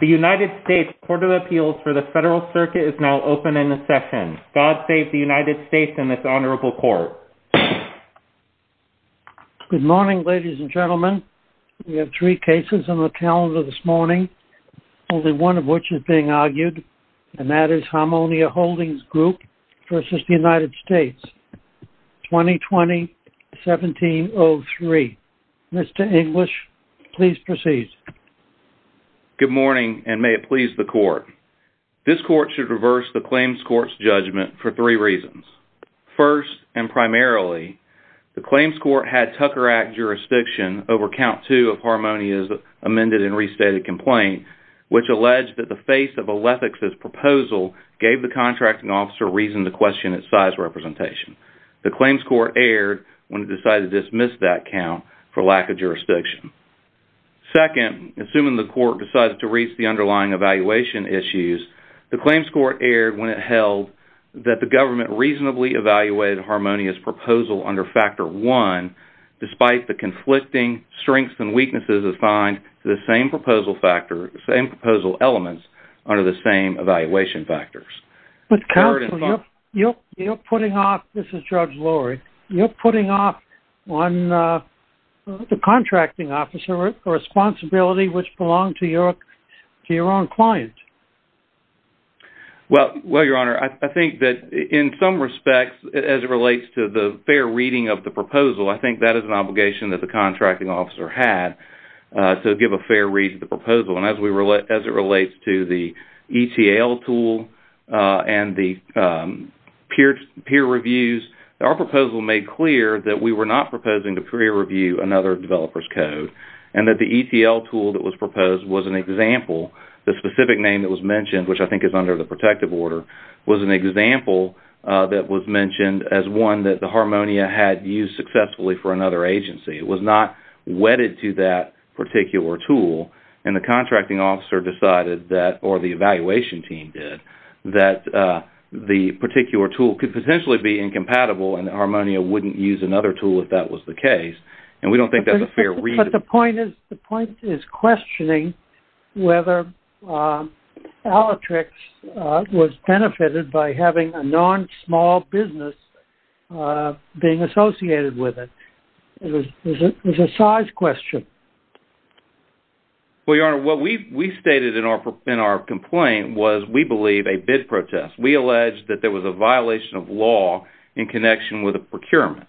The United States Court of Appeals for the Federal Circuit is now open in the session. God save the United States in this honorable court Good morning, ladies and gentlemen, we have three cases on the calendar this morning Only one of which is being argued and that is Harmonia Holdings Group versus the United States 2020 1703 Mr. English, please proceed Good morning, and may it please the court This court should reverse the claims court's judgment for three reasons first and primarily The claims court had Tucker Act jurisdiction over count two of Harmonia's amended and restated complaint Which alleged that the face of a lethics as proposal gave the contracting officer reason to question its size representation The claims court aired when it decided to dismiss that count for lack of jurisdiction Second assuming the court decides to reach the underlying evaluation issues the claims court aired when it held That the government reasonably evaluated Harmonia's proposal under factor one Despite the conflicting strengths and weaknesses of find the same proposal factor same proposal elements under the same evaluation factors You're you're putting off. This is judge Laurie. You're putting off on The contracting officer responsibility which belonged to your to your own client Well, well your honor, I think that in some respects as it relates to the fair reading of the proposal I think that is an obligation that the contracting officer had to give a fair read the proposal and as we relate as it relates to the ETL tool and the Peer peer reviews our proposal made clear that we were not proposing to pre-review another developers code and that the ETL tool that was Proposed was an example the specific name that was mentioned, which I think is under the protective order was an example That was mentioned as one that the Harmonia had used successfully for another agency It was not wedded to that particular tool and the contracting officer decided that or the evaluation team did that? The particular tool could potentially be incompatible and Harmonia wouldn't use another tool if that was the case And we don't think that's a fair read. But the point is the point is questioning whether Alatrix was benefited by having a non small business Being associated with it. It was a size question Well, your honor what we've we stated in our in our complaint was we believe a bid protest we alleged that there was a violation of law in connection with a Procurement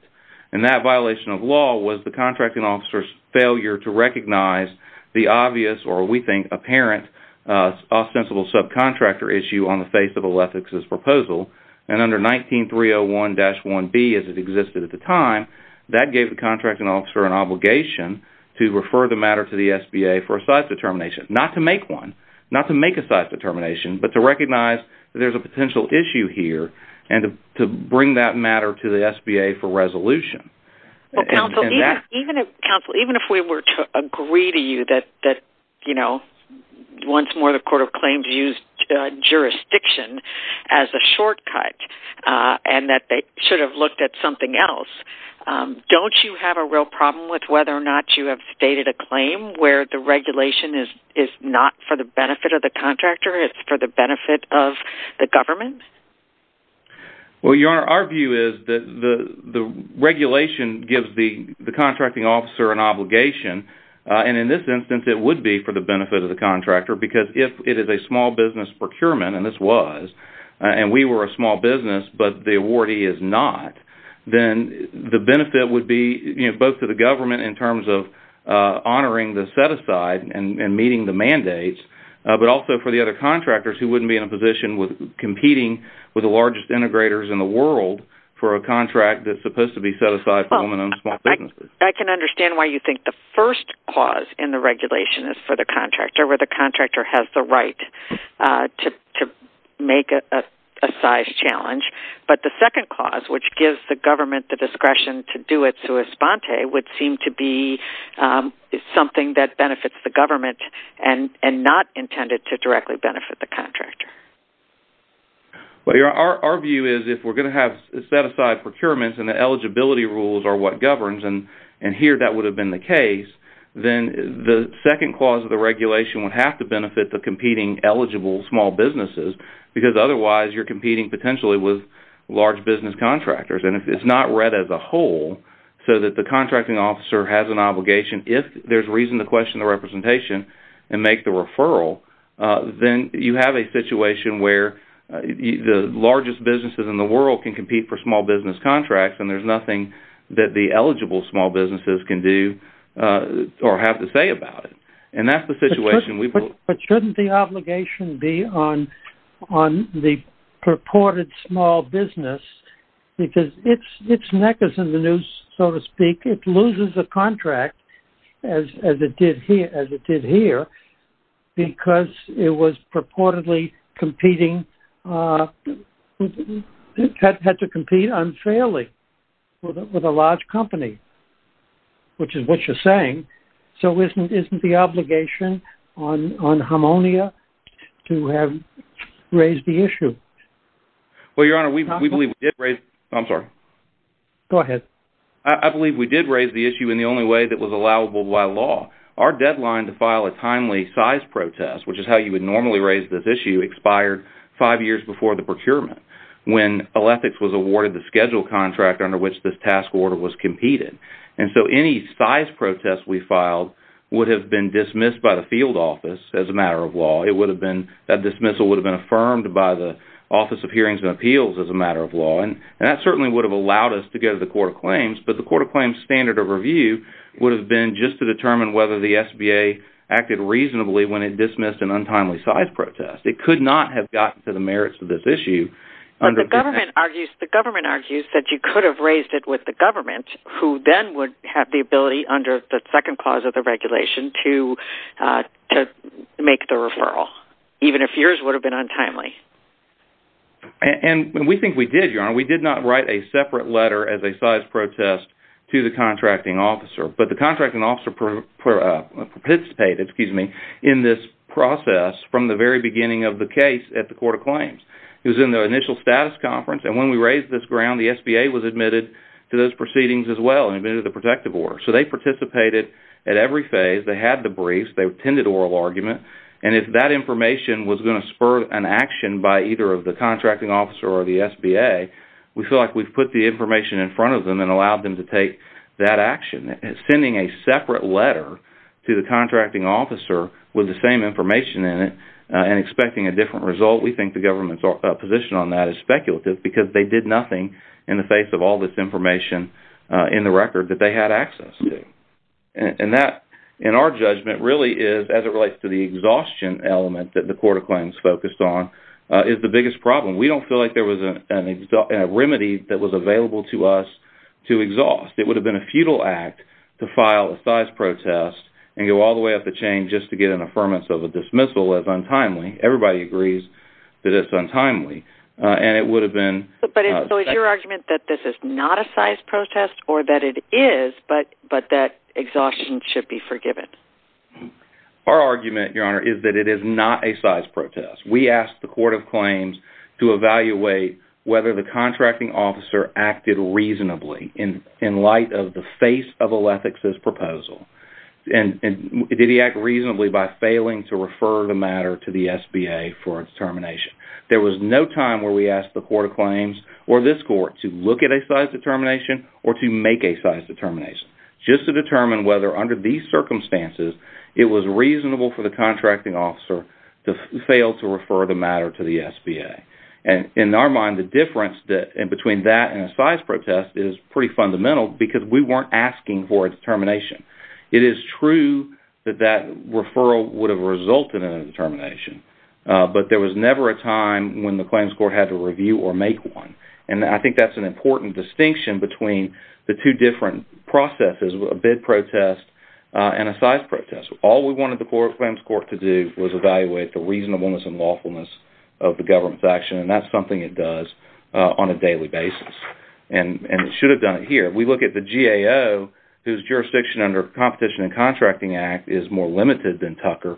and that violation of law was the contracting officers failure to recognize the obvious or we think apparent ostensible subcontractor issue on the face of a left X's proposal and under 19301-1 B as it existed at the time that gave the contracting officer an obligation To refer the matter to the SBA for a size determination not to make one not to make a size determination But to recognize there's a potential issue here and to bring that matter to the SBA for resolution Even if we were to agree to you that that you know once more the Court of Claims used Jurisdiction as a shortcut And that they should have looked at something else Don't you have a real problem with whether or not you have stated a claim where the regulation is is not for the benefit of The contractor it's for the benefit of the government Well, your honor our view is that the the regulation gives the the contracting officer an obligation And in this instance it would be for the benefit of the contractor because if it is a small business procurement and this was And we were a small business, but the awardee is not Then the benefit would be you know both to the government in terms of Honoring the set-aside and meeting the mandates But also for the other contractors who wouldn't be in a position with competing with the largest integrators in the world For a contract that's supposed to be set aside for a woman on a small business I can understand why you think the first clause in the regulation is for the contractor where the contractor has the right to make a size challenge, but the second clause which gives the government the discretion to do it to a sponte would seem to be Something that benefits the government and and not intended to directly benefit the contractor But your our view is if we're going to have set-aside procurements and the eligibility rules are what governs and and here that would have Been the case then the second clause of the regulation would have to benefit the competing eligible small businesses Because otherwise you're competing potentially with large business contractors And if it's not read as a whole So that the contracting officer has an obligation if there's reason to question the representation and make the referral Then you have a situation where The largest businesses in the world can compete for small business contracts, and there's nothing that the eligible small businesses can do Or have to say about it, and that's the situation we put but shouldn't the obligation be on on the purported small business Because it's it's neck is in the news so to speak it loses a contract as as it did here as it did here Because it was purportedly competing Had to compete unfairly with a large company Which is what you're saying so isn't isn't the obligation on on harmonia? to have raised the issue Well your honor. We believe we did raise. I'm sorry Go ahead I believe we did raise the issue in the only way that was allowable by law our deadline to file a timely size protest Which is how you would normally raise this issue expired five years before the procurement? When all ethics was awarded the schedule contract under which this task order was competed and so any size protest we filed Would have been dismissed by the field office as a matter of law it would have been that dismissal would have been affirmed by the Office of hearings and appeals as a matter of law and that certainly would have allowed us to go to the court of claims But the court of claims standard of review would have been just to determine whether the SBA Acted reasonably when it dismissed an untimely size protest it could not have gotten to the merits of this issue Under the government argues the government argues that you could have raised it with the government Who then would have the ability under the second clause of the regulation to? Make the referral even if yours would have been untimely And we think we did your honor we did not write a separate letter as a size protest to the contracting officer but the contracting officer Propitiated excuse me in this process from the very beginning of the case at the court of claims It was in the initial status conference and when we raised this ground the SBA was admitted to those proceedings as well And admitted the protective order so they participated at every phase they had the briefs They attended oral argument And if that information was going to spur an action by either of the contracting officer or the SBA We feel like we've put the information in front of them and allowed them to take that action It's sending a separate letter to the contracting officer with the same information in it and expecting a different result We think the government's position on that is speculative because they did nothing in the face of all this information In the record that they had access to And that in our judgment really is as it relates to the exhaustion element that the court of claims focused on Is the biggest problem we don't feel like there was a remedy that was available to us to exhaust It would have been a futile act to file a size Protest and go all the way up the chain just to get an affirmance of a dismissal as untimely everybody agrees that it's untimely And it would have been but it was your argument that this is not a size protest or that it is but but that Exhaustion should be forgiven Our argument your honor is that it is not a size protest We asked the court of claims to evaluate whether the contracting officer acted reasonably in in light of the face of a lethics as proposal and Did he act reasonably by failing to refer the matter to the SBA for its termination? There was no time where we asked the court of claims or this court to look at a size determination or to make a size Determination just to determine whether under these circumstances It was reasonable for the contracting officer to fail to refer the matter to the SBA And in our mind the difference that in between that and a size protest is pretty fundamental because we weren't asking for its termination It is true that that referral would have resulted in a determination But there was never a time when the claims court had to review or make one and I think that's an important distinction between the two different processes a bid protest And a size protest all we wanted the court of claims court to do was evaluate the reasonableness and lawfulness of the government's action And that's something it does on a daily basis and and it should have done it here We look at the GAO whose jurisdiction under competition and contracting act is more limited than Tucker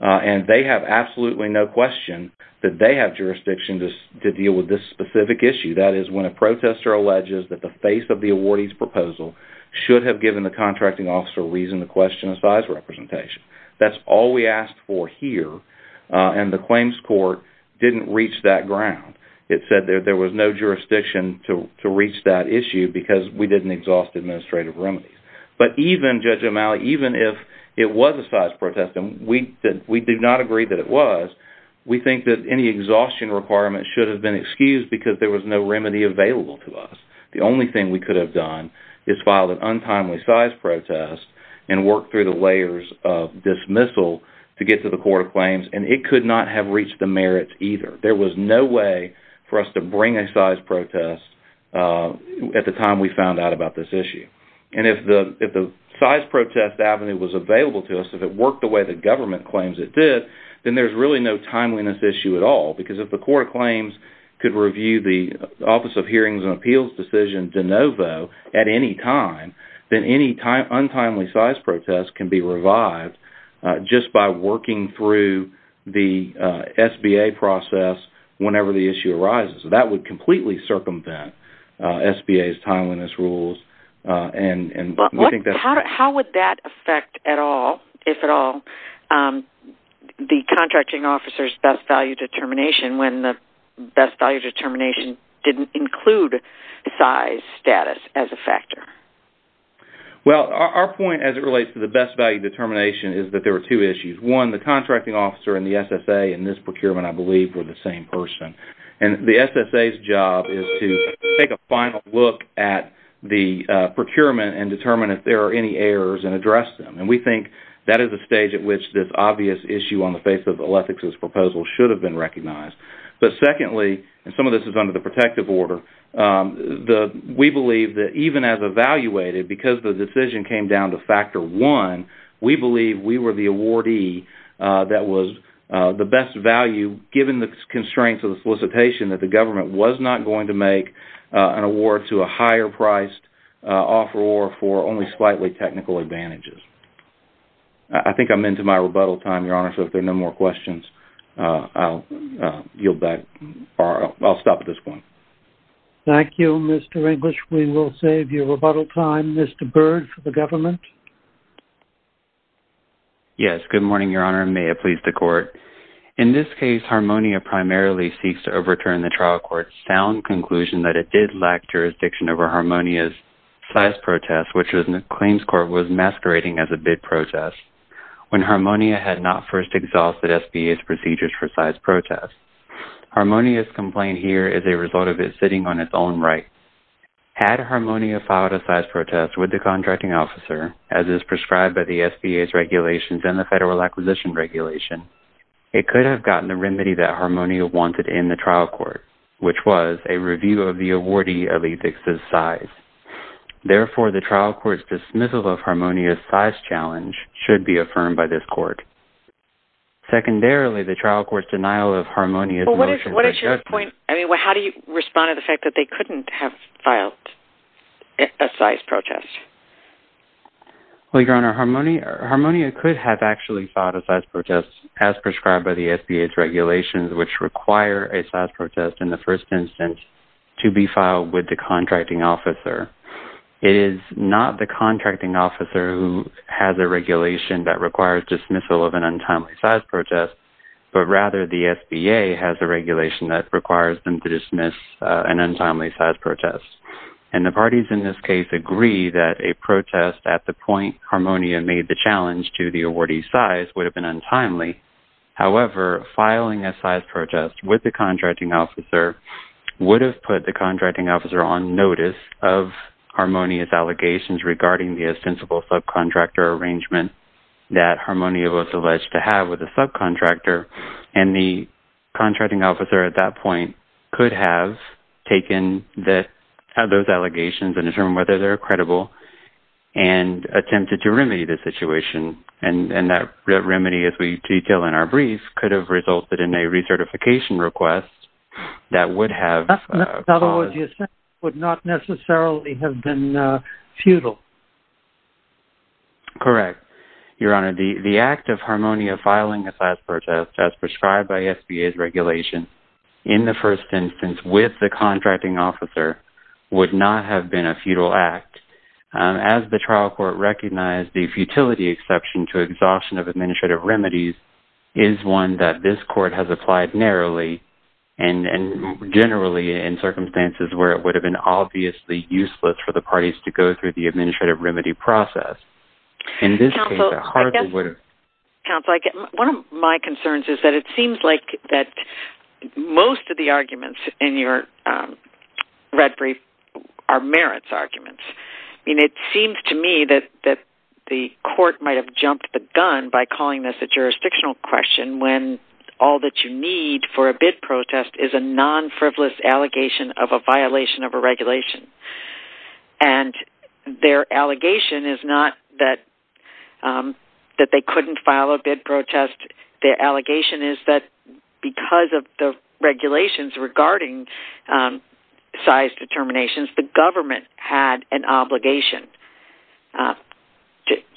And they have absolutely no question that they have jurisdiction to deal with this specific issue That is when a protester alleges that the face of the awardees proposal should have given the contracting officer reason to question a size Representation that's all we asked for here and the claims court didn't reach that ground It said there there was no jurisdiction to reach that issue because we didn't exhaust administrative remedies But even judge O'Malley even if it was a size protest and we did we did not agree that it was We think that any exhaustion requirement should have been excused because there was no remedy available to us the only thing we could have done is filed an untimely size protest and work through the layers of Dismissal to get to the court of claims and it could not have reached the merits either There was no way for us to bring a size protest At the time we found out about this issue And if the if the size protest Avenue was available to us if it worked the way the government claims it did then there's really no timeliness issue at all because if the court of claims Could review the Office of Hearings and Appeals decision de novo at any time Then any time untimely size protests can be revived just by working through the SBA process whenever the issue arises that would completely circumvent SBA's timeliness rules and and I think that's how would that affect at all if at all The contracting officers best value determination when the best value determination didn't include size status as a factor Well our point as it relates to the best value determination is that there were two issues one the contracting officer and the SSA and this SSA's job is to take a final look at the Procurement and determine if there are any errors and address them and we think that is a stage at which this obvious issue on the Face of a leftovers proposal should have been recognized. But secondly and some of this is under the protective order The we believe that even as evaluated because the decision came down to factor one. We believe we were the awardee That was the best value given the constraints of the solicitation that the government was not going to make An award to a higher priced offeror for only slightly technical advantages, I Think I'm into my rebuttal time your honor. So if there are no more questions Yield back or I'll stop at this point Thank You. Mr. English. We will save your rebuttal time. Mr. Bird for the government Yes, good morning, your honor may it please the court in this case Harmonia primarily seeks to overturn the trial court's sound conclusion that it did lack jurisdiction over harmonia's Size protest which was in the claims court was masquerading as a bid protest When harmonia had not first exhausted SBA's procedures for size protests Harmonia's complaint here is a result of it sitting on its own right Had harmonia filed a size protest with the contracting officer As is prescribed by the SBA's regulations and the federal acquisition regulation It could have gotten the remedy that harmonia wanted in the trial court, which was a review of the awardee of a fixes size Therefore the trial court's dismissal of harmonia's size challenge should be affirmed by this court Secondarily the trial court's denial of harmonia. What is what is your point? I mean, well, how do you respond to the fact that they couldn't have filed a size protest Well, your honor harmonia harmonia could have actually filed a size protest as prescribed by the SBA's regulations Which require a size protest in the first instance to be filed with the contracting officer It is not the contracting officer who has a regulation that requires dismissal of an untimely size protest But rather the SBA has a regulation that requires them to dismiss an untimely size protest and the parties in this case Agree that a protest at the point harmonia made the challenge to the awardee size would have been untimely however filing a size protest with the contracting officer would have put the contracting officer on notice of harmonia's allegations regarding the ostensible subcontractor arrangement that harmonia was alleged to have with a subcontractor and the contractor credible and Attempted to remedy the situation and and that remedy as we detail in our brief could have resulted in a recertification request that would have Would not necessarily have been futile Correct your honor the the act of harmonia filing a size protest as prescribed by SBA's regulation In the first instance with the contracting officer would not have been a futile act as the trial court recognized the futility exception to exhaustion of administrative remedies is one that this court has applied narrowly and Generally in circumstances where it would have been obviously useless for the parties to go through the administrative remedy process in this Most of the arguments in your Red Brief are merits arguments I mean it seems to me that that the court might have jumped the gun by calling this a jurisdictional question when all that you need for a bid protest is a non-frivolous allegation of a violation of a regulation and Their allegation is not that Regulations regarding size determinations the government had an obligation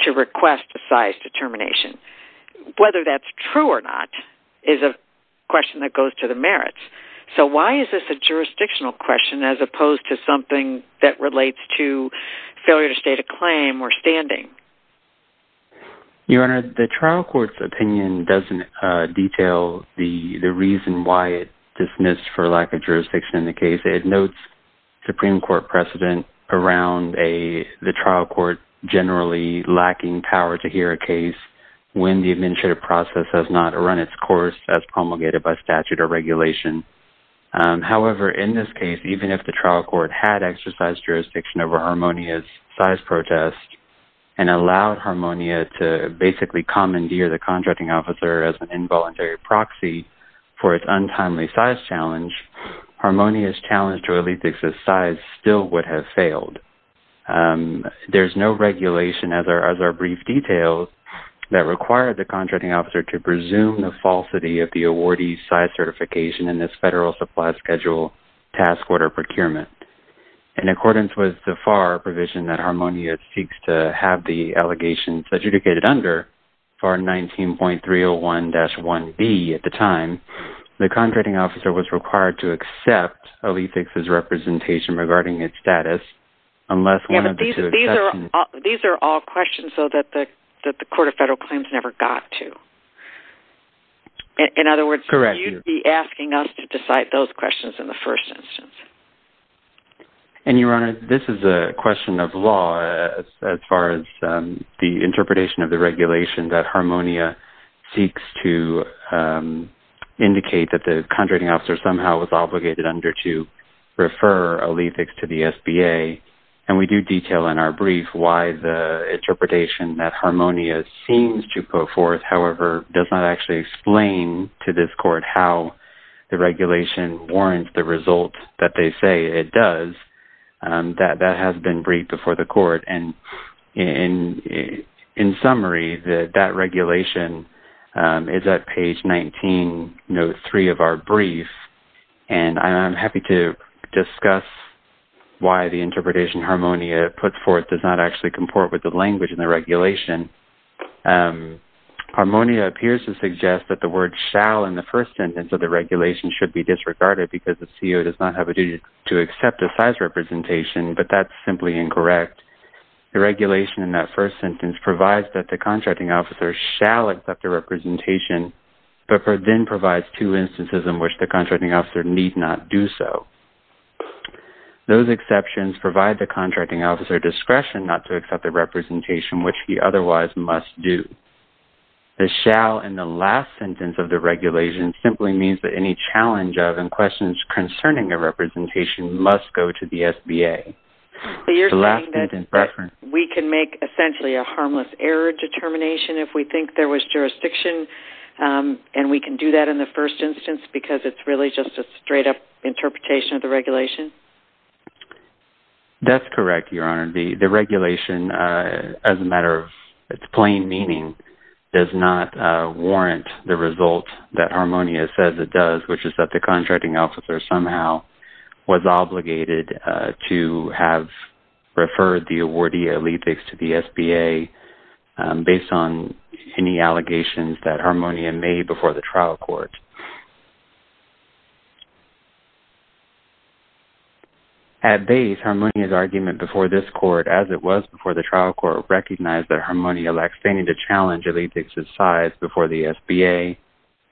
To request a size determination Whether that's true or not is a question that goes to the merits So why is this a jurisdictional question as opposed to something that relates to failure to state a claim or standing? You honored the trial courts opinion doesn't Detail the the reason why it dismissed for lack of jurisdiction in the case it notes Supreme Court precedent around a the trial court generally lacking power to hear a case When the administrative process has not run its course as promulgated by statute or regulation however, in this case even if the trial court had exercised jurisdiction over harmonious size protest and Allowed harmonia to basically commandeer the contracting officer as an involuntary proxy for its untimely size challenge Harmonious challenge to elitism size still would have failed There's no regulation as our as our brief details That required the contracting officer to presume the falsity of the awardee size certification in this federal supply schedule task order procurement in Accordance with the far provision that harmonious seeks to have the allegations adjudicated under for 19.301 dash 1b at the time the contracting officer was required to accept a leaf fixes representation regarding its status unless These are all questions so that the that the court of federal claims never got to In other words correct you be asking us to decide those questions in the first instance And your honor, this is a question of law as far as the interpretation of the regulation that harmonia seeks to Indicate that the contracting officer somehow was obligated under to refer a leaf fix to the SBA And we do detail in our brief why the interpretation that harmonious seems to go forth However does not actually explain to this court. How the regulation warrants the result that they say it does that that has been briefed before the court and in In summary that that regulation Is that page 19 note 3 of our brief, and I'm happy to discuss Why the interpretation harmonia put forth does not actually comport with the language in the regulation? Harmonia appears to suggest that the word shall in the first sentence of the regulation should be disregarded because the CEO does not have A duty to accept a size representation, but that's simply incorrect The regulation in that first sentence provides that the contracting officer shall accept a representation But for then provides two instances in which the contracting officer need not do so Those exceptions provide the contracting officer discretion not to accept the representation which he otherwise must do The shall and the last sentence of the regulation simply means that any challenge of and questions concerning a representation Must go to the SBA So you're laughing in preference. We can make essentially a harmless error determination if we think there was jurisdiction And we can do that in the first instance because it's really just a straight-up Interpretation of the regulation That's correct your honor the the regulation as a matter of its plain meaning does not Warrant the result that harmonia says it does which is that the contracting officer somehow? was obligated to have Referred the awardee a lead fix to the SBA Based on any allegations that harmonia made before the trial court At Base harmonia's argument before this court as it was before the trial court Recognized that harmonia lacks standing to challenge a lead to size before the SBA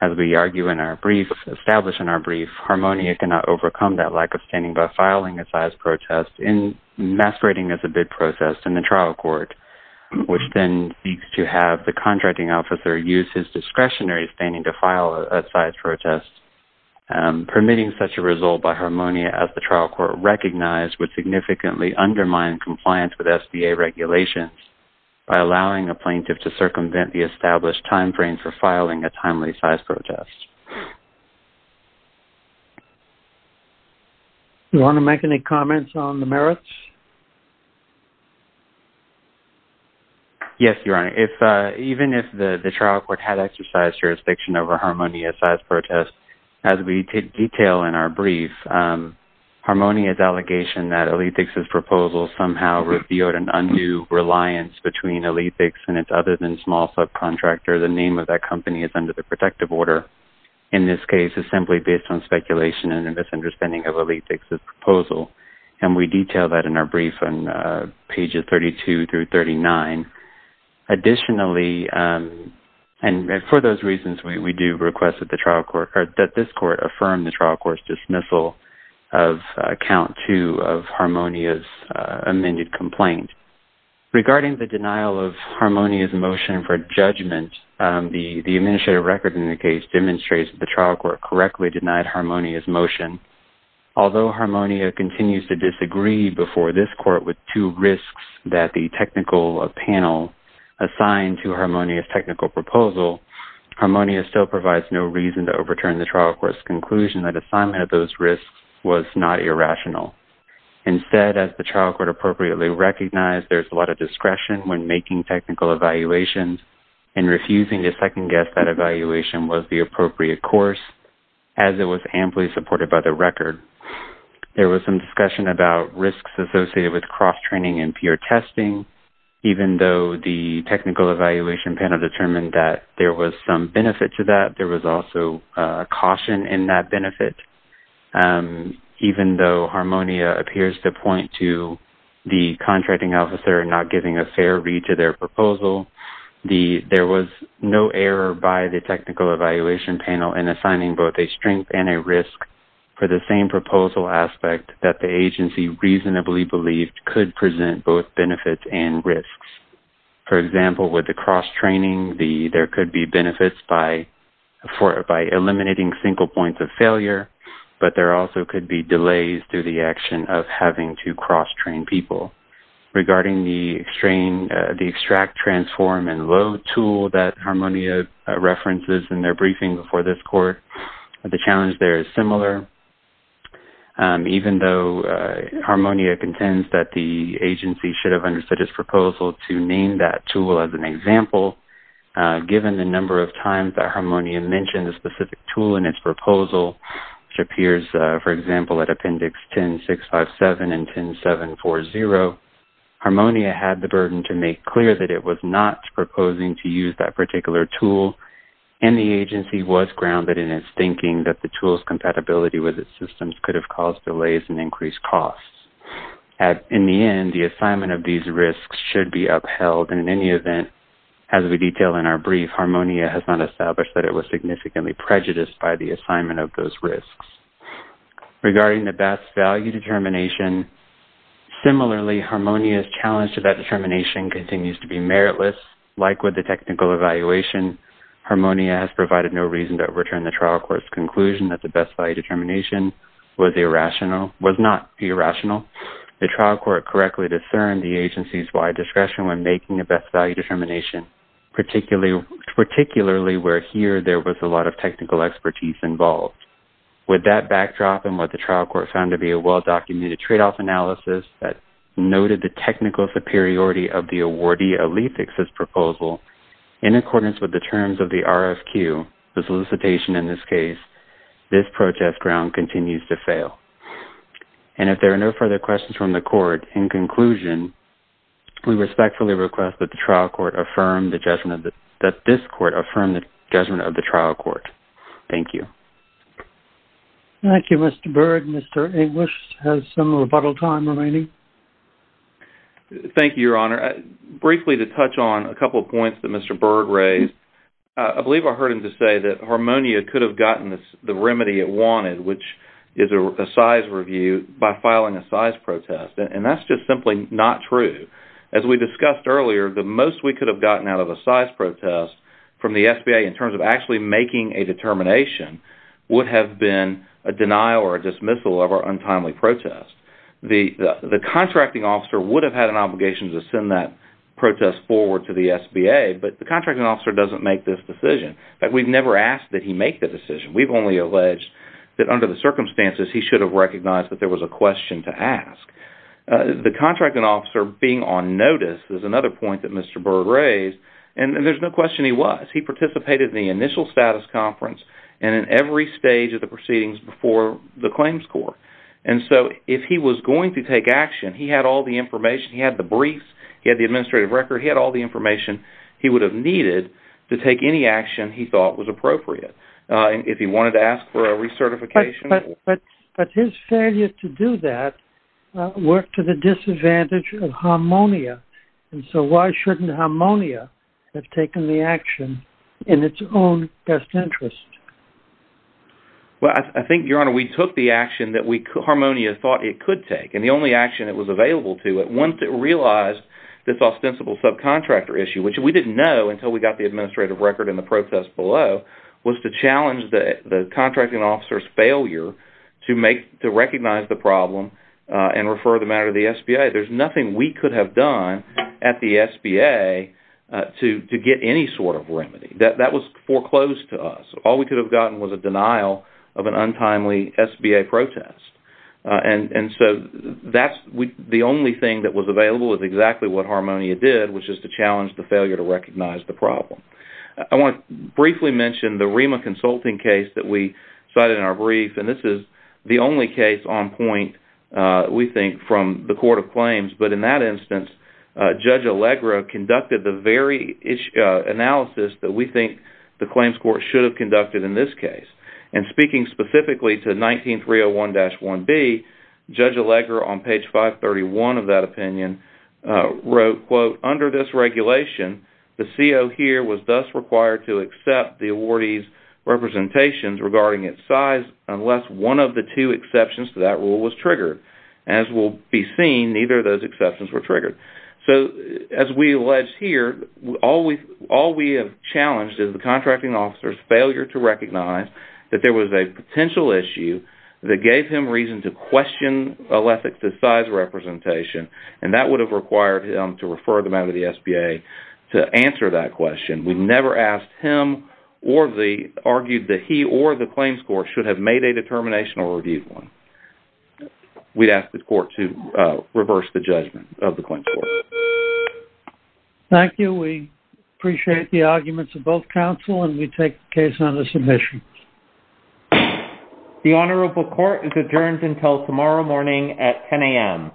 As we argue in our brief established in our brief harmonia cannot overcome that lack of standing by filing a size protest in Masquerading as a bid process in the trial court Which then seeks to have the contracting officer use his discretionary standing to file a size protest? Permitting such a result by harmonia as the trial court recognized would significantly undermine compliance with SBA Regulations by allowing a plaintiff to circumvent the established time frame for filing a timely size protest You want to make any comments on the merits Yes, you're right if even if the the trial court had exercised jurisdiction over harmonia size protest as we did detail in our brief Harmonia's allegation that a lead fixes proposal somehow revealed an undue reliance between a lead fix and it's other than small Subcontractor the name of that company is under the protective order in this case is simply based on speculation and a misunderstanding of a lead Proposal and we detail that in our brief on pages 32 through 39 Additionally and for those reasons we do request that the trial court card that this court affirmed the trial court's dismissal of count two of harmonia's amended complaint Regarding the denial of harmonia's motion for judgment The the administrative record in the case demonstrates the trial court correctly denied harmonia's motion Although harmonia continues to disagree before this court with two risks that the technical of panel assigned to harmonia's technical proposal Harmonia still provides no reason to overturn the trial court's conclusion that assignment of those risks was not irrational instead as the trial court appropriately recognized there's a lot of discretion when making technical evaluations and As it was amply supported by the record There was some discussion about risks associated with cross-training and peer testing Even though the technical evaluation panel determined that there was some benefit to that. There was also a caution in that benefit Even though harmonia appears to point to the contracting officer not giving a fair read to their proposal The there was no error by the technical evaluation panel in assigning both a strength and a risk For the same proposal aspect that the agency reasonably believed could present both benefits and risks for example with the cross-training the there could be benefits by For by eliminating single points of failure, but there also could be delays through the action of having to cross-train people Regarding the strain the extract transform and load tool that harmonia References in their briefing before this court the challenge there is similar Even though Harmonia contends that the agency should have understood his proposal to name that tool as an example Given the number of times that harmonia mentioned the specific tool in its proposal Which appears for example at appendix 10 6 5 7 and 10 7 4 0 harmonia had the burden to make clear that it was not proposing to use that particular tool and The agency was grounded in its thinking that the tools compatibility with its systems could have caused delays and increased costs At in the end the assignment of these risks should be upheld and in any event as we detail in our brief Harmonia has not established that it was significantly prejudiced by the assignment of those risks regarding the best value determination Similarly harmonia's challenge to that determination continues to be meritless like with the technical evaluation Harmonia has provided no reason to overturn the trial courts conclusion that the best value determination Was irrational was not be irrational the trial court correctly discerned the agency's wide discretion when making a best value determination particularly Particularly where here there was a lot of technical expertise involved With that backdrop and what the trial court found to be a well-documented trade-off analysis that Noted the technical superiority of the awardee a leaf fixes proposal in accordance with the terms of the RFQ The solicitation in this case this protest ground continues to fail And if there are no further questions from the court in conclusion We respectfully request that the trial court affirm the judgment that this court affirmed the judgment of the trial court. Thank you Thank You. Mr. Berg. Mr. English has some rebuttal time remaining Thank you, your honor Briefly to touch on a couple of points that mr. Bird raised I believe I heard him to say that harmonia could have gotten this the remedy it wanted which is a Size review by filing a size protest and that's just simply not true as we discussed earlier The most we could have gotten out of a size protest from the SBA in terms of actually making a determination Would have been a denial or dismissal of our untimely protest The the contracting officer would have had an obligation to send that protest forward to the SBA But the contracting officer doesn't make this decision, but we've never asked that he make the decision We've only alleged that under the circumstances. He should have recognized that there was a question to ask The contracting officer being on notice is another point that mr. Bird raised and there's no question He was he participated in the initial status conference and in every stage of the proceedings before the claims court And so if he was going to take action, he had all the information. He had the briefs He had the administrative record hit all the information he would have needed to take any action He thought was appropriate and if he wanted to ask for a recertification But but his failure to do that Worked to the disadvantage of harmonia And so why shouldn't harmonia have taken the action in its own best interest? Well, I think your honor we took the action that we harmonia thought it could take and the only action it was available to it Once it realized this ostensible subcontractor issue Which we didn't know until we got the administrative record in the protest below Was to challenge that the contracting officers failure to make to recognize the problem And refer the matter of the SBA. There's nothing we could have done at the SBA To to get any sort of remedy that that was foreclosed to us All we could have gotten was a denial of an untimely SBA protest And and so that's we the only thing that was available is exactly what harmonia did which is to challenge the failure to recognize the problem I want to briefly mention the Rima consulting case that we cited in our brief And this is the only case on point We think from the Court of Claims, but in that instance Judge Allegra conducted the very issue Analysis that we think the claims court should have conducted in this case and speaking specifically to 19 301 dash 1b Judge Allegra on page 531 of that opinion Wrote quote under this regulation the CEO here was thus required to accept the awardees Representations regarding its size unless one of the two exceptions to that rule was triggered as Will be seen neither of those exceptions were triggered So as we allege here always all we have challenged is the contracting officers failure to recognize That there was a potential issue that gave him reason to question Olympics the size Representation and that would have required him to refer them out of the SBA to answer that question We've never asked him or the argued that he or the claims court should have made a determination or reviewed one We'd ask the court to reverse the judgment of the claim Thank you, we appreciate the arguments of both counsel and we take the case on the submission The Honorable Court is adjourned until tomorrow morning at 10 a.m.